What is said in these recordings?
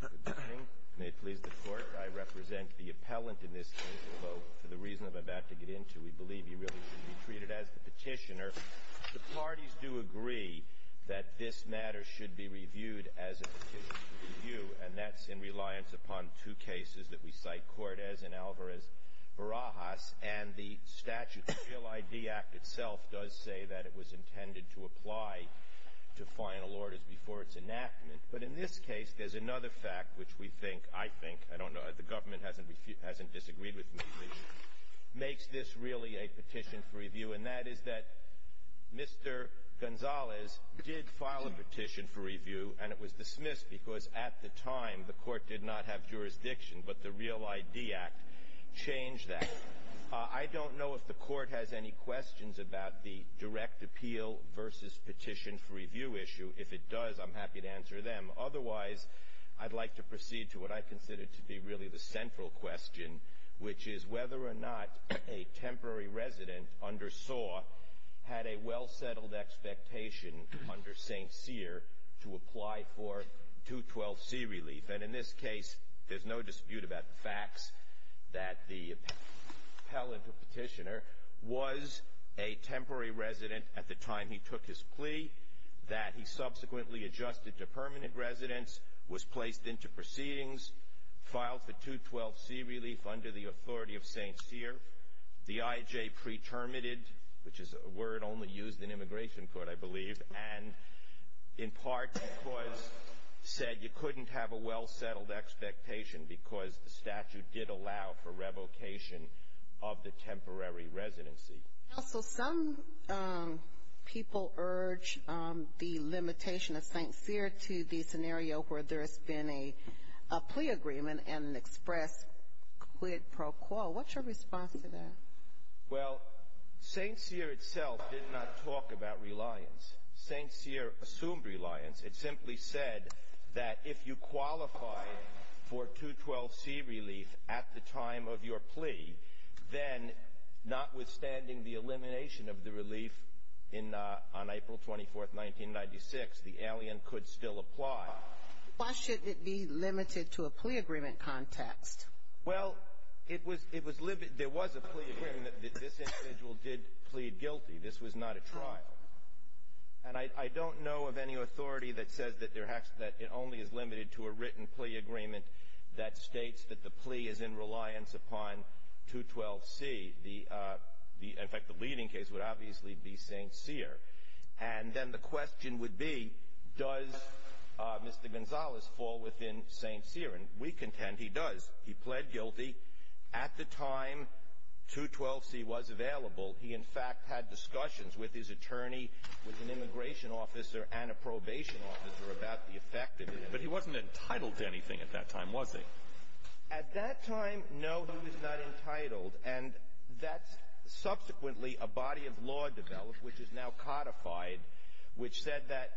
Good morning. May it please the Court, I represent the appellant in this case, although for the reason I'm about to get into, we believe he really should be treated as the petitioner. The parties do agree that this matter should be reviewed as a petitioner's review, and that's in reliance upon two cases that we cite, Cortes and Alvarez-Barajas, and the enactment. But in this case, there's another fact which we think, I think, I don't know, the government hasn't disagreed with me, which makes this really a petition for review, and that is that Mr. Gonzales did file a petition for review, and it was dismissed because at the time the Court did not have jurisdiction, but the Real ID Act changed that. I don't know if the Court has any questions about the direct appeal versus petition for review issue. If it does, I'm happy to answer them. Otherwise, I'd like to proceed to what I consider to be really the central question, which is whether or not a temporary resident under Saw had a well-settled expectation under St. Cyr to apply for 212C relief. And in this case, there's no dispute about the facts that the appellant or petitioner was a temporary resident at the time he took his plea, that he subsequently adjusted to permanent residence, was placed into proceedings, filed for 212C relief under the authority of St. Cyr, the IJ pre-terminated, which is a word only used in immigration court, I believe, and in part because said you couldn't have a well-settled expectation because the statute did allow for revocation of the temporary residency. Also, some people urge the limitation of St. Cyr to the scenario where there's been a plea agreement and expressed quid pro quo. What's your response to that? Well, St. Cyr itself did not talk about reliance. St. Cyr assumed reliance. It simply said that if you qualified for 212C relief at the time of your plea, then notwithstanding the elimination of the relief on April 24, 1996, the alien could still apply. Why should it be limited to a plea agreement context? Well, it was limited. There was a plea agreement that this individual did plead guilty. This was not a trial. And I don't know of any authority that says that it only is limited to a written plea agreement that states that the plea is in reliance upon 212C. In fact, the leading case would obviously be St. Cyr. And then the question would be, does Mr. Gonzalez fall within St. Cyr? And we contend he does. He plead guilty. At the time, 212C was available. He, in fact, had discussions with his attorney, with an immigration officer and a probation officer, about the effect of it. But he wasn't entitled to anything at that time, was he? At that time, no, he was not entitled. And that's subsequently a body of law developed, which is now codified, which said that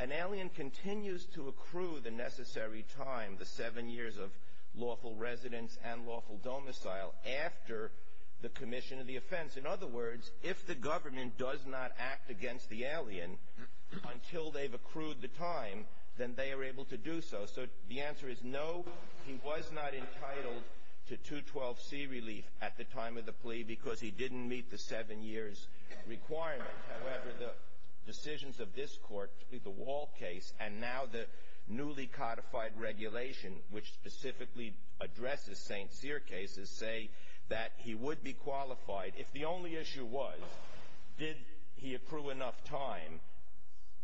an alien continues to accrue the necessary time, the seven years of lawful residence and lawful domicile, after the commission of the offense. In other words, if the government does not act against the alien until they've accrued the time, then they are able to do so. So the answer is, no, he was not entitled to 212C relief at the time of the plea because he didn't meet the seven years requirement. However, the decisions of this Court, the Wall case, and now the newly codified regulation, which specifically addresses St. Cyr cases, say that he would be qualified. If the only issue was, did he accrue enough time,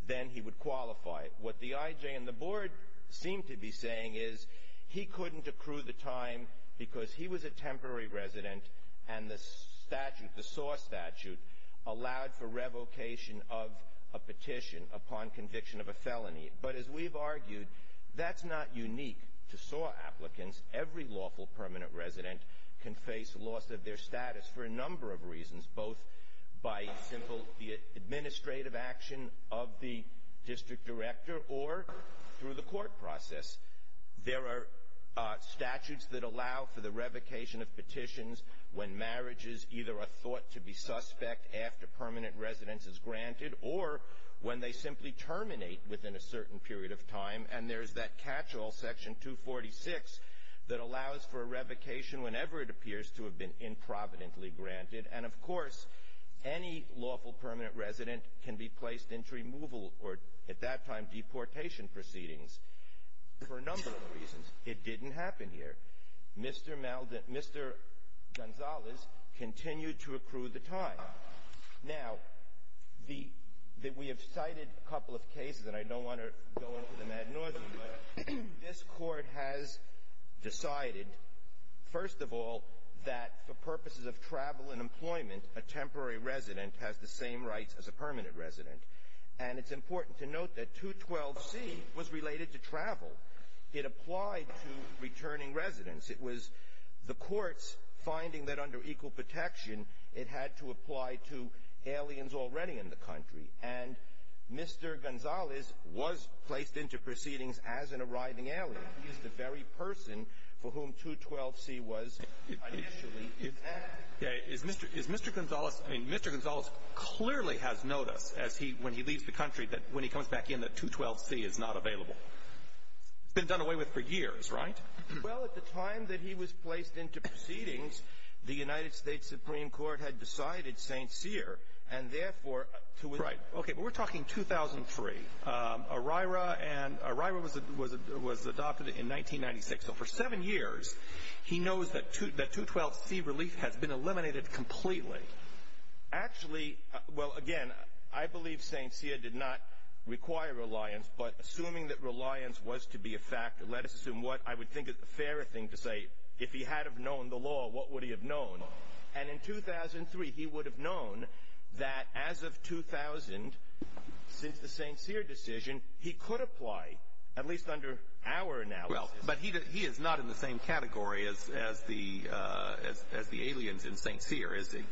then he would qualify. What the IJ and the Board seem to be saying is, he couldn't accrue the time because he was a temporary resident and the statute, the SAW statute, allowed for revocation of a petition upon conviction of a felony. But as we've argued, that's not unique to SAW applicants. Every lawful permanent resident can face loss of their status for a number of reasons, both by simple administrative action of the district director or through the court process. There are statutes that allow for the revocation of petitions when marriages either are thought to be suspect after permanent residence is granted or when they simply terminate within a certain period of time. And there's that catch-all, Section 246, that allows for a revocation whenever it appears to have been improvidently granted. And, of course, any lawful permanent resident can be placed into removal or, at that time, deportation proceedings for a number of reasons. It didn't happen here. Mr. Malden — Mr. Gonzalez continued to accrue the time. Now, the — we have cited a couple of cases, and I don't want to go into the Mad Northern, but this Court has decided, first of all, that for purposes of travel and employment, a temporary resident has the same rights as a permanent resident. And it's important to note that 212C was related to travel. It applied to returning residents. It was the Court's finding that under equal protection, it had to apply to aliens already in the country. And Mr. Gonzalez was placed into proceedings as an arriving alien. He is the very person for whom 212C was initially enacted. Is Mr. — is Mr. Gonzalez — I mean, Mr. Gonzalez clearly has noticed as he — when he leaves the country, that when he comes back in, that 212C is not available. It's been done away with for years, right? Well, at the time that he was placed into proceedings, the United States Supreme Court had decided St. Cyr, and, therefore, to — Right. Okay. But we're talking 2003. O'Reira and — O'Reira was adopted in 1996. So for seven years, he knows that 212C relief has been eliminated completely. Actually — well, again, I believe St. Cyr did not require reliance, but assuming that reliance was to be a factor, let us assume what I would think is a fair thing to say. If he had have known the law, what would he have known? And in 2003, he would have known that as of 2000, since the St. Cyr decision, he could apply, at least under our analysis. Well, but he is not in the same category as the aliens in St. Cyr, is he?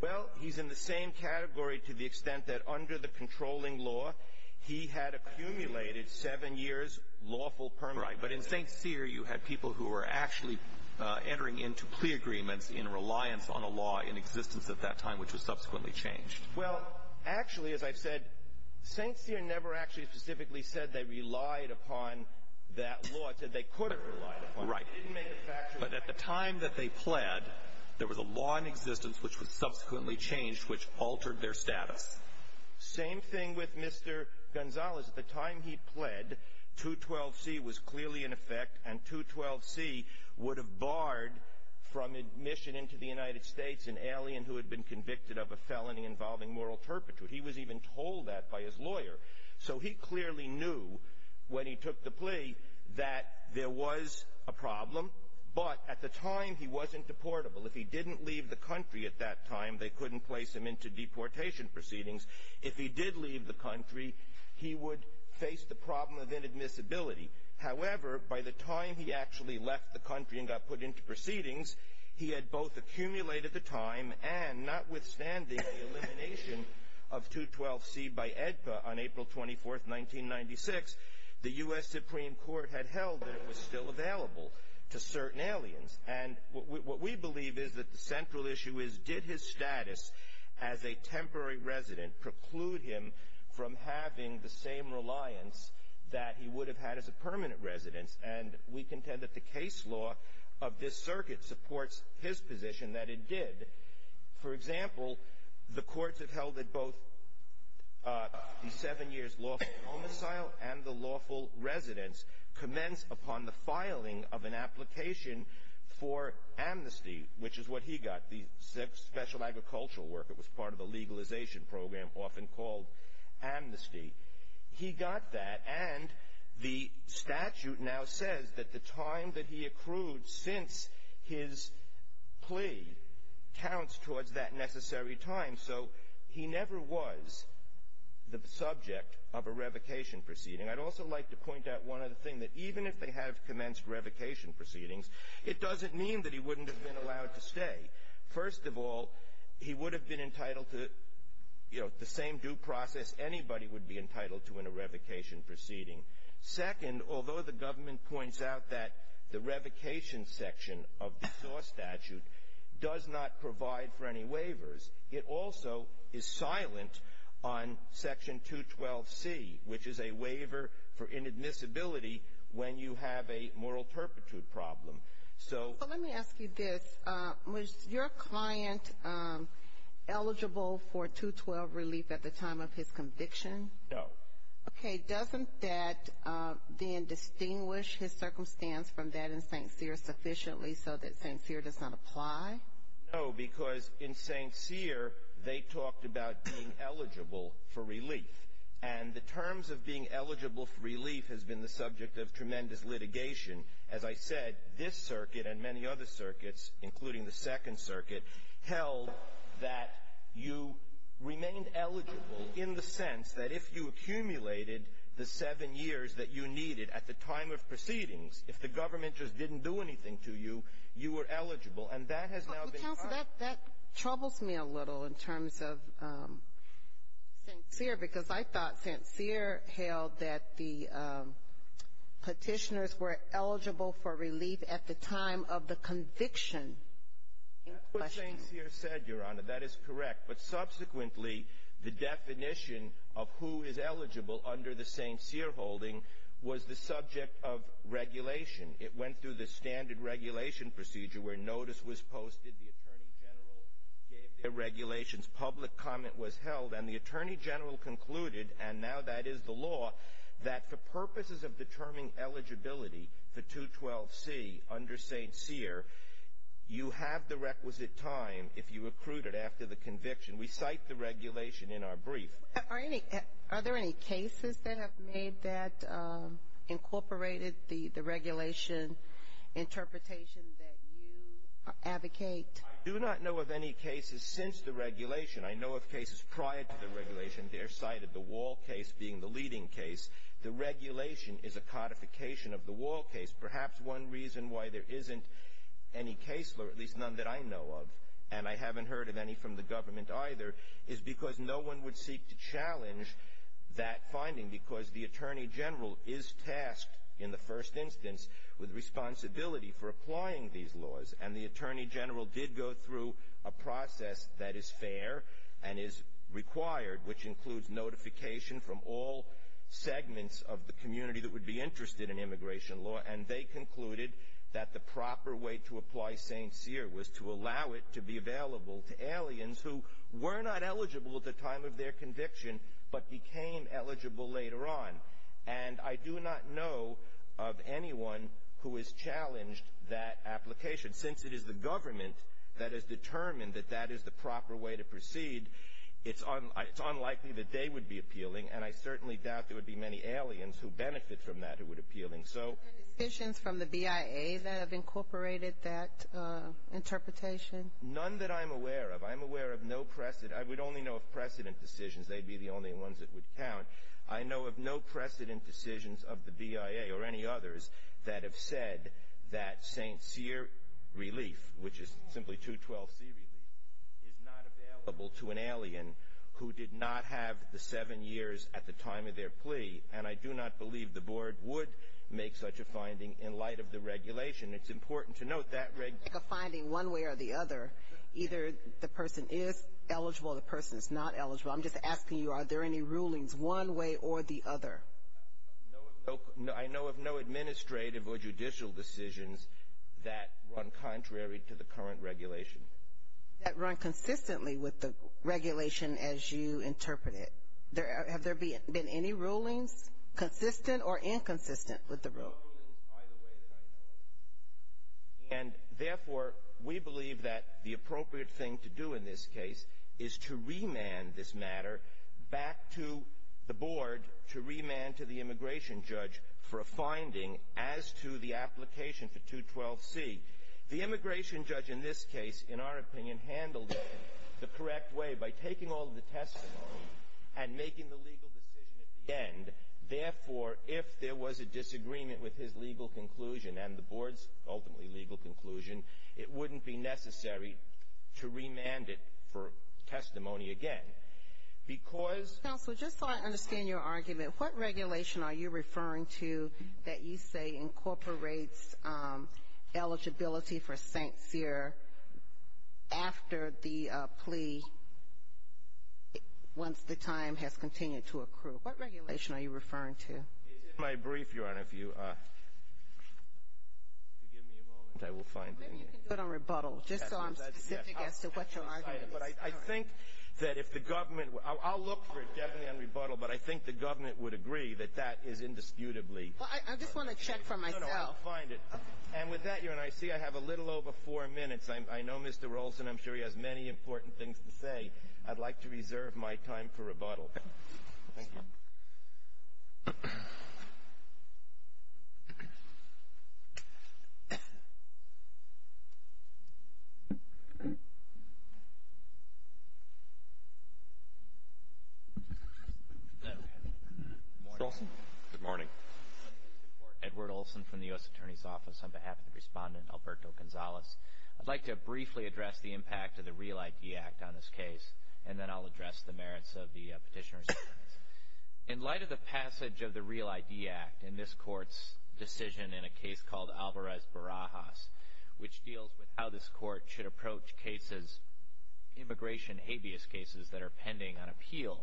Well, he's in the same category to the extent that under the controlling law, he had accumulated seven years lawful permanent — Right. But in St. Cyr, you had people who were actually entering into plea agreements in reliance on a law in existence at that time, which was subsequently changed. Well, actually, as I've said, St. Cyr never actually specifically said they relied upon that law. It said they could have relied upon it. Right. It didn't make it a factor. But at the time that they pled, there was a law in existence which was subsequently changed, which altered their status. Same thing with Mr. Gonzalez. At the time he pled, 212C was clearly in effect, and 212C would have barred from admission into the United States an alien who had been convicted of a felony involving moral turpitude. He was even told that by his lawyer. So he clearly knew when he took the plea that there was a problem. But at the time, he wasn't deportable. If he didn't leave the country at that time, they couldn't place him into deportation proceedings. If he did leave the country, he would face the problem of inadmissibility. However, by the time he actually left the country and got put into proceedings, he had both accumulated the time, and notwithstanding the elimination of 212C by AEDPA on April 24, 1996, the U.S. Supreme Court had held that it was still available to certain aliens. And what we believe is that the central issue is, did his status as a temporary resident preclude him from having the same reliance that he would have had as a permanent resident? And we contend that the case law of this circuit supports his position that it did. For example, the courts have held that both the seven years lawful homicidal and the lawful residence commenced upon the filing of an application for amnesty, which is what he got, the special agricultural work. It was part of the legalization program, often called amnesty. He got that, and the statute now says that the time that he accrued since his plea counts towards that necessary time. So he never was the subject of a revocation proceeding. I'd also like to point out one other thing, that even if they have commenced revocation proceedings, it doesn't mean that he wouldn't have been allowed to stay. First of all, he would have been entitled to, you know, the same due process anybody would be entitled to in a revocation proceeding. Second, although the government points out that the revocation section of the law statute does not provide for any waivers, it also is silent on Section 212C, which is a waiver for inadmissibility when you have a moral perpetuity problem. So. But let me ask you this. Was your client eligible for 212 relief at the time of his conviction? No. Okay. Doesn't that then distinguish his circumstance from that in St. Cyr sufficiently so that St. Cyr does not apply? No, because in St. Cyr, they talked about being eligible for relief. And the terms of being eligible for relief has been the subject of tremendous litigation. As I said, this circuit and many other circuits, including the Second Circuit, held that you remained eligible in the sense that if you accumulated the seven years that you needed at the time of proceedings, if the government just didn't do anything to you, you were eligible. And that has now been part of it. St. Cyr, because I thought St. Cyr held that the Petitioners were eligible for relief at the time of the conviction. That's what St. Cyr said, Your Honor. That is correct. But subsequently, the definition of who is eligible under the St. Cyr holding was the subject of regulation. It went through the standard regulation procedure where notice was posted, the Attorney General gave their regulations, public comment was held, and the Attorney General concluded, and now that is the law, that for purposes of determining eligibility for 212C under St. Cyr, you have the requisite time if you accrued it after the conviction. We cite the regulation in our brief. Are there any cases that have made that incorporated the regulation interpretation that you advocate? I do not know of any cases since the regulation. I know of cases prior to the regulation. They're cited, the Wall case being the leading case. The regulation is a codification of the Wall case. Perhaps one reason why there isn't any case, or at least none that I know of, and I haven't heard of any from the government either, is because no one would seek to challenge that finding because the Attorney General is tasked in the first instance with responsibility for applying these laws, and the Attorney General did go through a process that is fair and is required, which includes notification from all segments of the community that would be interested in immigration law, and they concluded that the proper way to apply St. Cyr was to allow it to be available to aliens who were not eligible at the time of their conviction but became eligible later on. And I do not know of anyone who has challenged that application. Since it is the government that has determined that that is the proper way to proceed, it's unlikely that they would be appealing, and I certainly doubt there would be many aliens who benefit from that who would appeal. Are there decisions from the BIA that have incorporated that interpretation? None that I'm aware of. I'm aware of no precedent. I would only know of precedent decisions. They'd be the only ones that would count. I know of no precedent decisions of the BIA or any others that have said that St. Cyr relief, which is simply 212C relief, is not available to an alien who did not have the seven years at the time of their plea, and I do not believe the Board would make such a finding in light of the regulation. It's important to note that regulation. It's like a finding one way or the other. Either the person is eligible or the person is not eligible. I'm just asking you, are there any rulings one way or the other? I know of no administrative or judicial decisions that run contrary to the current regulation. That run consistently with the regulation as you interpret it. Have there been any rulings, consistent or inconsistent, with the rule? No rulings either way that I know of. And, therefore, we believe that the appropriate thing to do in this case is to remand this matter back to the Board to remand to the immigration judge for a finding as to the application for 212C. The immigration judge in this case, in our opinion, handled it the correct way by taking all the testimony and making the legal decision at the end. And, therefore, if there was a disagreement with his legal conclusion and the Board's ultimately legal conclusion, it wouldn't be necessary to remand it for testimony again. Because — Counselor, just so I understand your argument, what regulation are you referring to that you say incorporates eligibility for St. Cyr after the plea, once the time has continued to accrue? What regulation are you referring to? In my brief, Your Honor, if you give me a moment, I will find it. Maybe you can go to rebuttal, just so I'm specific as to what your argument is. But I think that if the government — I'll look for it definitely on rebuttal, but I think the government would agree that that is indisputably — Well, I just want to check for myself. No, no, I'll find it. And with that, Your Honor, I see I have a little over four minutes. I know Mr. Rolson, I'm sure he has many important things to say. I'd like to reserve my time for rebuttal. Thank you. Mr. Rolson? Good morning. Good morning, Mr. Court. Edward Olson from the U.S. Attorney's Office on behalf of the Respondent, Alberto Gonzalez. I'd like to briefly address the impact of the Real ID Act on this case, and then I'll address the merits of the petitioner's arguments. In light of the passage of the Real ID Act in this Court's decision in a case called Alvarez-Barajas, which deals with how this Court should approach cases, immigration habeas cases that are pending on appeal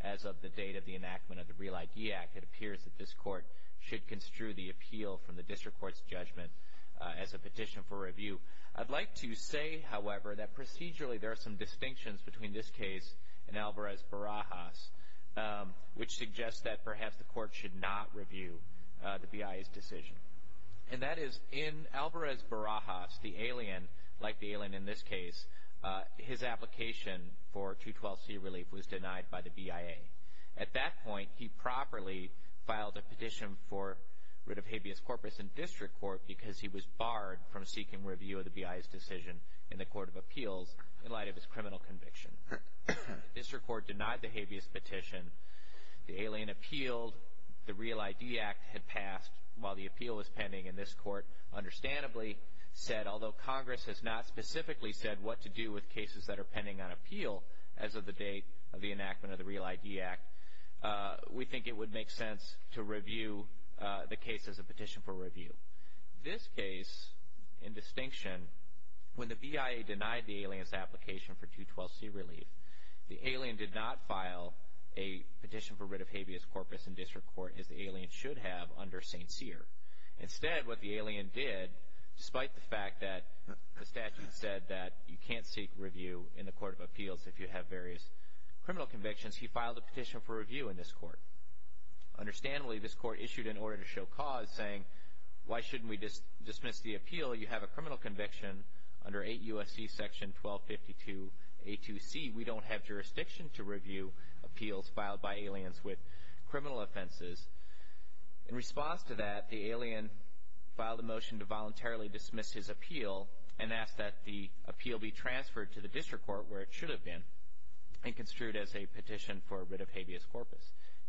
as of the date of the enactment of the Real ID Act, it appears that this Court should construe the appeal from the District Court's judgment as a petition for review. I'd like to say, however, that procedurally there are some distinctions between this case and Alvarez-Barajas, which suggests that perhaps the Court should not review the BIA's decision. And that is, in Alvarez-Barajas, the alien, like the alien in this case, his application for 212C relief was denied by the BIA. At that point, he properly filed a petition for writ of habeas corpus in District Court because he was barred from seeking review of the BIA's decision in the Court of Appeals in light of his criminal conviction. The District Court denied the habeas petition. The alien appealed. The Real ID Act had passed while the appeal was pending in this Court. Understandably said, although Congress has not specifically said what to do with cases that are pending on appeal as of the date of the enactment of the Real ID Act, we think it would make sense to review the case as a petition for review. This case, in distinction, when the BIA denied the alien's application for 212C relief, the alien did not file a petition for writ of habeas corpus in District Court as the alien should have under St. Cyr. Instead, what the alien did, despite the fact that the statute said that you can't seek review in the Court of Appeals if you have various criminal convictions, he filed a petition for review in this Court. Understandably, this Court issued an order to show cause, saying, why shouldn't we dismiss the appeal? You have a criminal conviction under 8 U.S.C. section 1252A2C. We don't have jurisdiction to review appeals filed by aliens with criminal offenses. In response to that, the alien filed a motion to voluntarily dismiss his appeal and ask that the appeal be transferred to the District Court where it should have been and construed as a petition for writ of habeas corpus.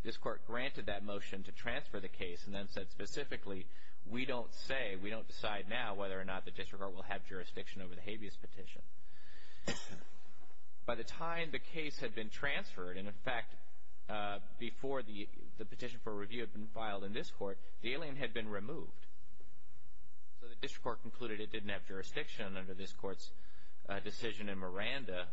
This Court granted that motion to transfer the case and then said specifically, we don't say, we don't decide now whether or not the District Court will have jurisdiction over the habeas petition. By the time the case had been transferred, and in fact, before the petition for review had been filed in this Court, the alien had been removed. So the District Court concluded it didn't have jurisdiction under this Court's decision in Miranda.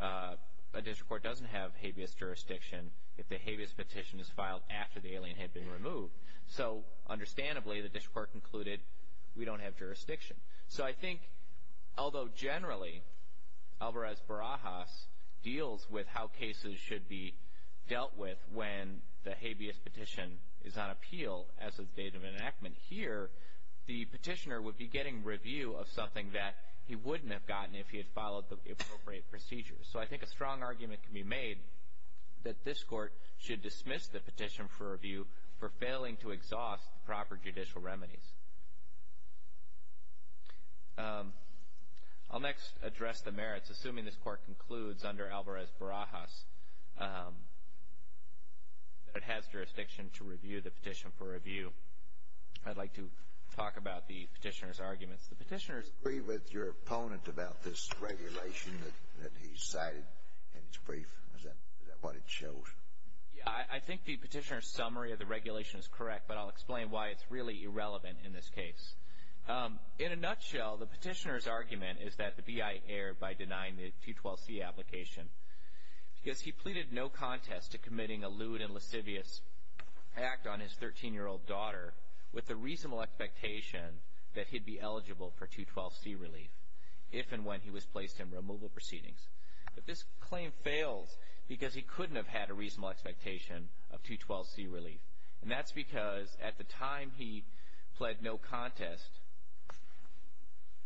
A District Court doesn't have habeas jurisdiction if the habeas petition is filed after the alien had been removed. So, understandably, the District Court concluded we don't have jurisdiction. So I think, although generally, Alvarez-Barajas deals with how cases should be dealt with when the habeas petition is on appeal as of the date of enactment. Here, the petitioner would be getting review of something that he wouldn't have gotten if he had followed the appropriate procedures. So I think a strong argument can be made that this Court should dismiss the petition for review for failing to exhaust proper judicial remedies. I'll next address the merits, assuming this Court concludes under Alvarez-Barajas. It has jurisdiction to review the petition for review. I'd like to talk about the petitioner's arguments. The petitioner's... Do you agree with your opponent about this regulation that he cited in his brief? Is that what it shows? Yeah, I think the petitioner's summary of the regulation is correct, but I'll explain why it's really irrelevant in this case. In a nutshell, the petitioner's argument is that the B.I. erred by denying the 212C application because he pleaded no contest to committing a lewd and lascivious act on his 13-year-old daughter with the reasonable expectation that he'd be eligible for 212C relief if and when he was placed in removal proceedings. But this claim fails because he couldn't have had a reasonable expectation of 212C relief, and that's because at the time he pled no contest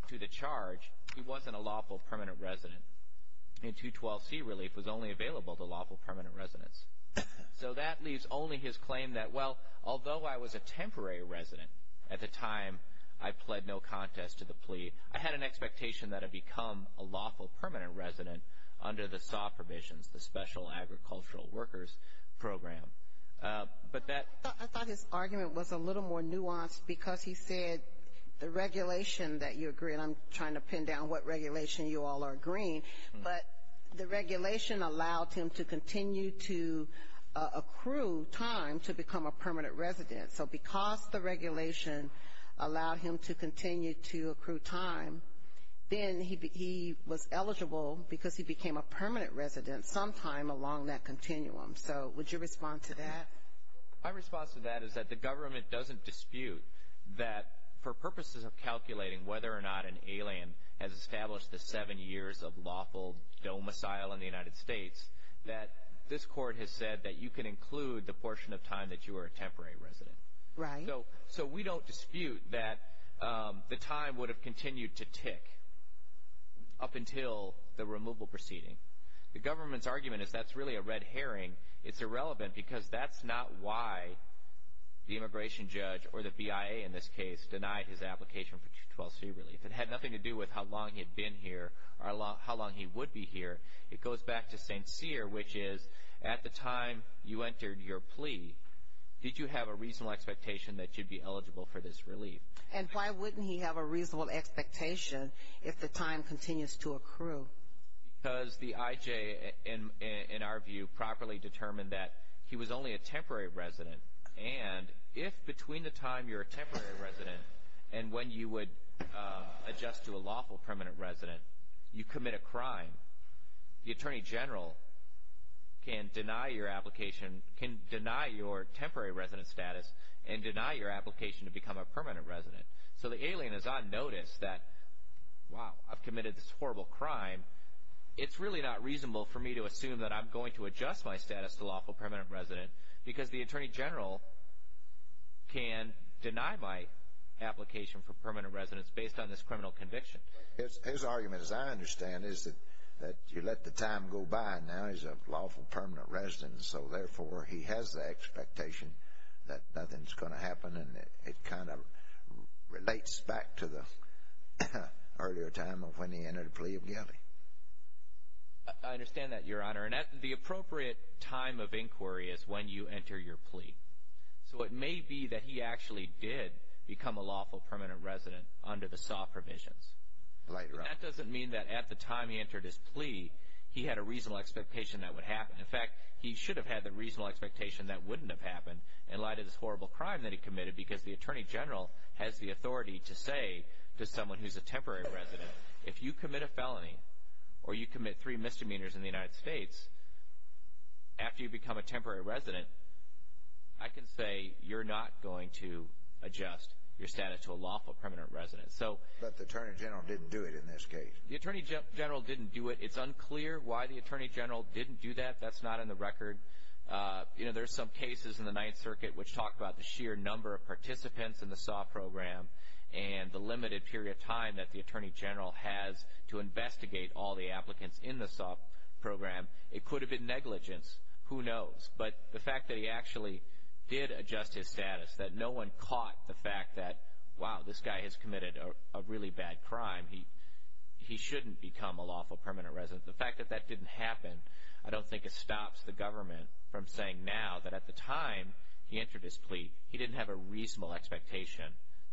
to the charge, he wasn't a lawful permanent resident, and 212C relief was only available to lawful permanent residents. So that leaves only his claim that, well, although I was a temporary resident at the time, I pled no contest to the plea, I had an expectation that I'd become a lawful permanent resident under the SAW provisions, the Special Agricultural Workers Program. But that... I thought his argument was a little more nuanced because he said the regulation that you agree, and I'm trying to pin down what regulation you all are agreeing, but the regulation allowed him to continue to accrue time to become a permanent resident. So because the regulation allowed him to continue to accrue time, then he was eligible because he became a permanent resident sometime along that continuum. So would you respond to that? My response to that is that the government doesn't dispute that for purposes of calculating whether or not an alien has established the seven years of lawful domicile in the United States, that this court has said that you can include the portion of time that you were a temporary resident. Right. So we don't dispute that the time would have continued to tick up until the removal proceeding. The government's argument is that's really a red herring. It's irrelevant because that's not why the immigration judge, or the BIA in this case, denied his application for 12c relief. It had nothing to do with how long he had been here or how long he would be here. It goes back to St. Cyr, which is at the time you entered your plea, did you have a reasonable expectation that you'd be eligible for this relief? And why wouldn't he have a reasonable expectation if the time continues to accrue? Because the IJ, in our view, properly determined that he was only a temporary resident. And if between the time you're a temporary resident and when you would adjust to a lawful permanent resident, you commit a crime, the Attorney General can deny your application, can deny your temporary resident status, and deny your application to become a permanent resident. So the alien is on notice that, wow, I've committed this horrible crime. It's really not reasonable for me to assume that I'm going to adjust my status to lawful permanent resident because the Attorney General can deny my application for permanent residence based on this criminal conviction. His argument, as I understand it, is that you let the time go by. Now he's a lawful permanent resident, so therefore he has the expectation that nothing's going to happen and it kind of relates back to the earlier time of when he entered a plea of guilty. I understand that, Your Honor. And the appropriate time of inquiry is when you enter your plea. So it may be that he actually did become a lawful permanent resident under the SAW provisions. But that doesn't mean that at the time he entered his plea, he had a reasonable expectation that would happen. In fact, he should have had the reasonable expectation that wouldn't have happened in light of this horrible crime that he committed because the Attorney General has the authority to say to someone who's a temporary resident, if you commit a felony or you commit three misdemeanors in the United States, after you become a temporary resident, I can say you're not going to adjust your status to a lawful permanent resident. But the Attorney General didn't do it in this case. The Attorney General didn't do it. It's unclear why the Attorney General didn't do that. That's not in the record. There are some cases in the Ninth Circuit which talk about the sheer number of participants in the SAW program and the limited period of time that the Attorney General has to investigate all the applicants in the SAW program. It could have been negligence. Who knows? But the fact that he actually did adjust his status, that no one caught the fact that, wow, this guy has committed a really bad crime, he shouldn't become a lawful permanent resident. The fact that that didn't happen, I don't think it stops the government from saying now that at the time he entered his plea, he didn't have a reasonable expectation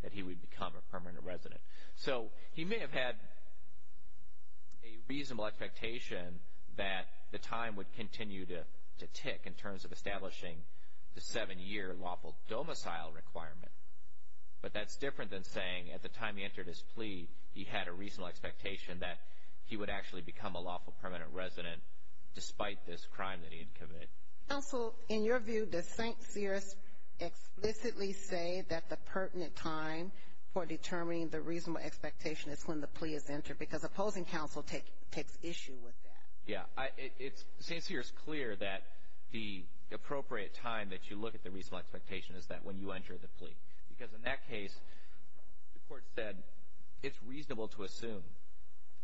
that he would become a permanent resident. So he may have had a reasonable expectation that the time would continue to tick in terms of establishing the seven-year lawful domicile requirement, but that's different than saying at the time he entered his plea, he had a reasonable expectation that he would actually become a lawful permanent resident despite this crime that he had committed. Counsel, in your view, does St. Cyr's explicitly say that the pertinent time for determining the reasonable expectation is when the plea is entered? Because opposing counsel takes issue with that. Yeah. St. Cyr's clear that the appropriate time that you look at the reasonable expectation is that when you enter the plea. Because in that case, the court said it's reasonable to assume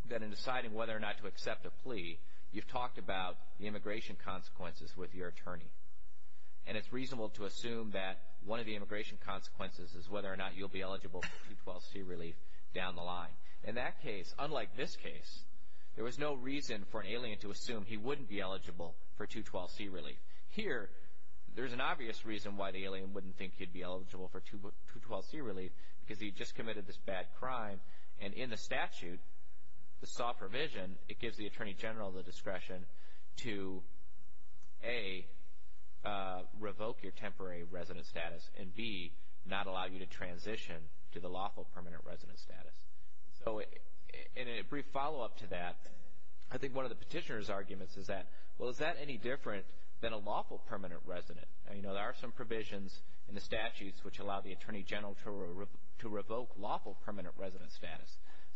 that in deciding whether or not to accept a plea, you've talked about the immigration consequences with your attorney. And it's reasonable to assume that one of the immigration consequences is whether or not you'll be eligible for 212C relief down the line. In that case, unlike this case, there was no reason for an alien to assume he wouldn't be eligible for 212C relief. Here, there's an obvious reason why the alien wouldn't think he'd be eligible for 212C relief, because he just committed this bad crime, and in the statute, the SAW provision, it gives the attorney general the discretion to, A, revoke your temporary resident status, and, B, not allow you to transition to the lawful permanent resident status. So in a brief follow-up to that, I think one of the petitioner's arguments is that, well, is that any different than a lawful permanent resident? You know, there are some provisions in the statutes which allow the attorney general to revoke lawful permanent resident status.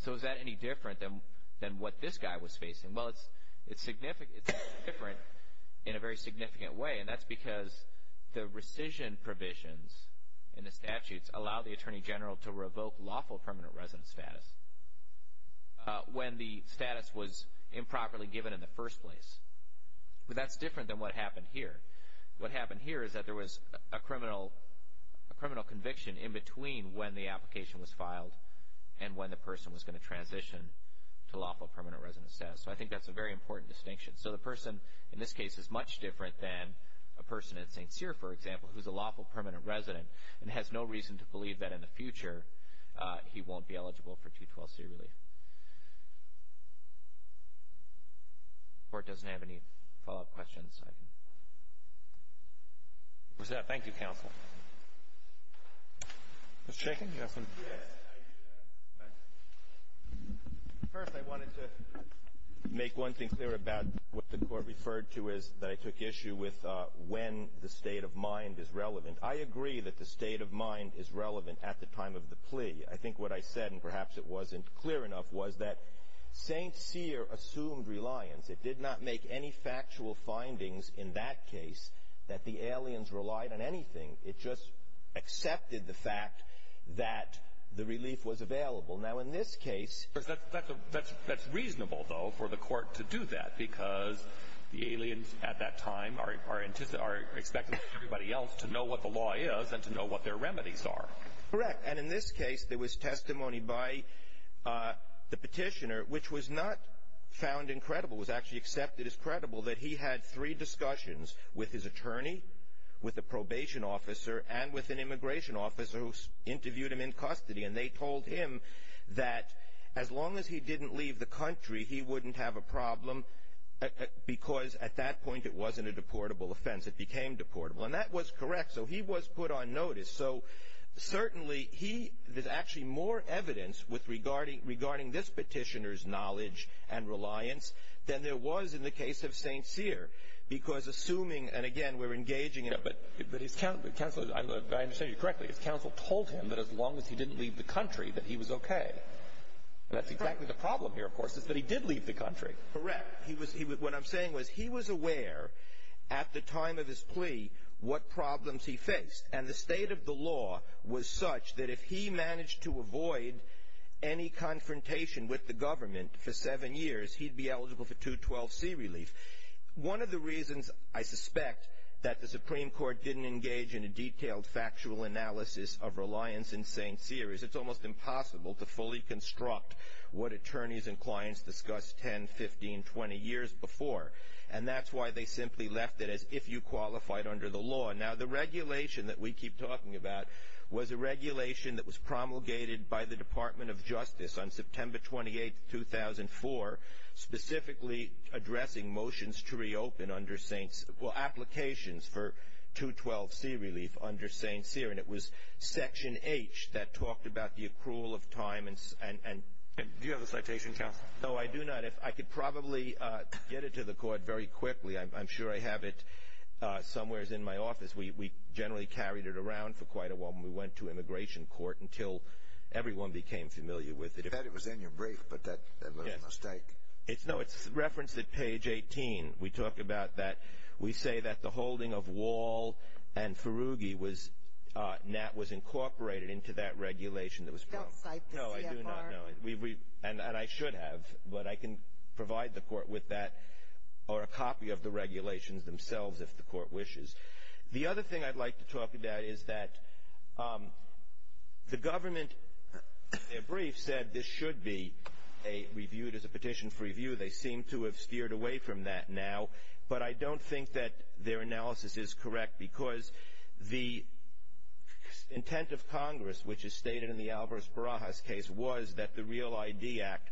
So is that any different than what this guy was facing? Well, it's different in a very significant way, and that's because the rescission provisions in the statutes allow the attorney general to revoke lawful permanent resident status when the status was improperly given in the first place. But that's different than what happened here. What happened here is that there was a criminal conviction in between when the application was filed and when the person was going to transition to lawful permanent resident status. So I think that's a very important distinction. So the person in this case is much different than a person in St. Cyr, for example, who's a lawful permanent resident and has no reason to believe that in the future he won't be eligible for 212C relief. If the Court doesn't have any follow-up questions, I can present. Thank you, Counsel. First, I wanted to make one thing clear about what the Court referred to that I took issue with when the state of mind is relevant. I agree that the state of mind is relevant at the time of the plea. I think what I said, and perhaps it wasn't clear enough, was that St. Cyr assumed reliance. It did not make any factual findings in that case that the aliens relied on anything. It just accepted the fact that the relief was available. That's reasonable, though, for the Court to do that, because the aliens at that time are expecting everybody else to know what the law is and to know what their remedies are. Correct. And in this case, there was testimony by the petitioner, which was not found incredible. It was actually accepted as credible that he had three discussions with his attorney, with a probation officer, and with an immigration officer who interviewed him in custody. And they told him that as long as he didn't leave the country, he wouldn't have a problem, because at that point, it wasn't a deportable offense. It became deportable. And that was correct. So he was put on notice. So certainly, there's actually more evidence regarding this petitioner's knowledge and reliance than there was in the case of St. Cyr, because assuming, and again, we're engaging in it. I understand you correctly. His counsel told him that as long as he didn't leave the country, that he was okay. And that's exactly the problem here, of course, is that he did leave the country. Correct. What I'm saying was he was aware at the time of his plea what problems he faced. And the state of the law was such that if he managed to avoid any confrontation with the government for seven years, he'd be eligible for 212C relief. One of the reasons I suspect that the Supreme Court didn't engage in a detailed factual analysis of reliance in St. Cyr is it's almost impossible to fully construct what attorneys and clients discussed 10, 15, 20 years before. And that's why they simply left it as if you qualified under the law. Now, the regulation that we keep talking about was a regulation that was promulgated by the Department of Justice on September 28, 2004, specifically addressing motions to reopen under St. Cyr, well, applications for 212C relief under St. Cyr. And it was Section H that talked about the accrual of time. Do you have a citation, counsel? No, I do not. I could probably get it to the court very quickly. I'm sure I have it somewhere in my office. We generally carried it around for quite a while when we went to immigration court until everyone became familiar with it. I thought it was in your brief, but that was a mistake. No, it's referenced at page 18. We talk about that. We say that the holding of Wall and Ferugi was incorporated into that regulation that was proposed. Don't cite the CFR. No, I do not. And I should have, but I can provide the court with that or a copy of the regulations themselves if the court wishes. The other thing I'd like to talk about is that the government, in their brief, said this should be reviewed as a petition for review. They seem to have steered away from that now, but I don't think that their analysis is correct because the intent of Congress, which is stated in the Alvarez-Barajas case, was that the Real ID Act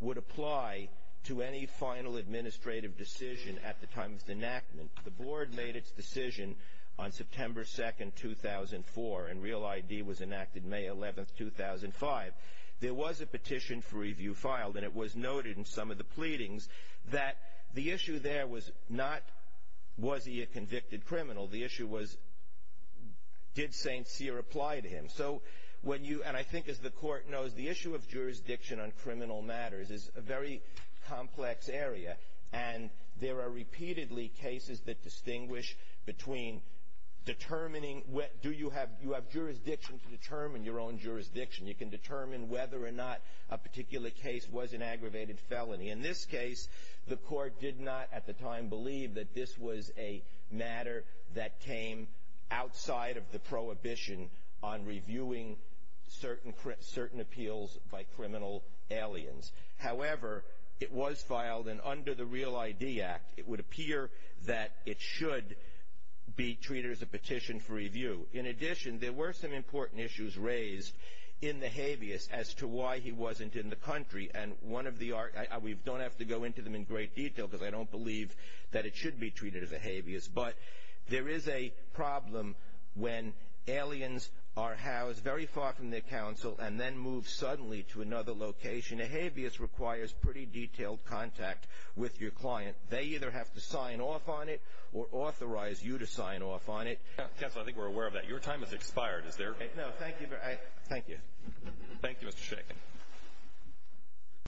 would apply to any final administrative decision at the time of its enactment. The board made its decision on September 2, 2004, and Real ID was enacted May 11, 2005. There was a petition for review filed, and it was noted in some of the pleadings that the issue there was not was he a convicted criminal. The issue was did St. Cyr apply to him. So when you, and I think as the court knows, the issue of jurisdiction on criminal matters is a very complex area, and there are repeatedly cases that distinguish between determining do you have jurisdiction to determine your own jurisdiction. You can determine whether or not a particular case was an aggravated felony. In this case, the court did not at the time believe that this was a matter that came outside of the prohibition on reviewing certain appeals by criminal aliens. However, it was filed, and under the Real ID Act, it would appear that it should be treated as a petition for review. In addition, there were some important issues raised in the habeas as to why he wasn't in the country, and we don't have to go into them in great detail because I don't believe that it should be treated as a habeas, but there is a problem when aliens are housed very far from their council and then move suddenly to another location. A habeas requires pretty detailed contact with your client. They either have to sign off on it or authorize you to sign off on it. Counsel, I think we're aware of that. Your time has expired. Is there? No, thank you. Thank you. Thank you, Mr. Shakin.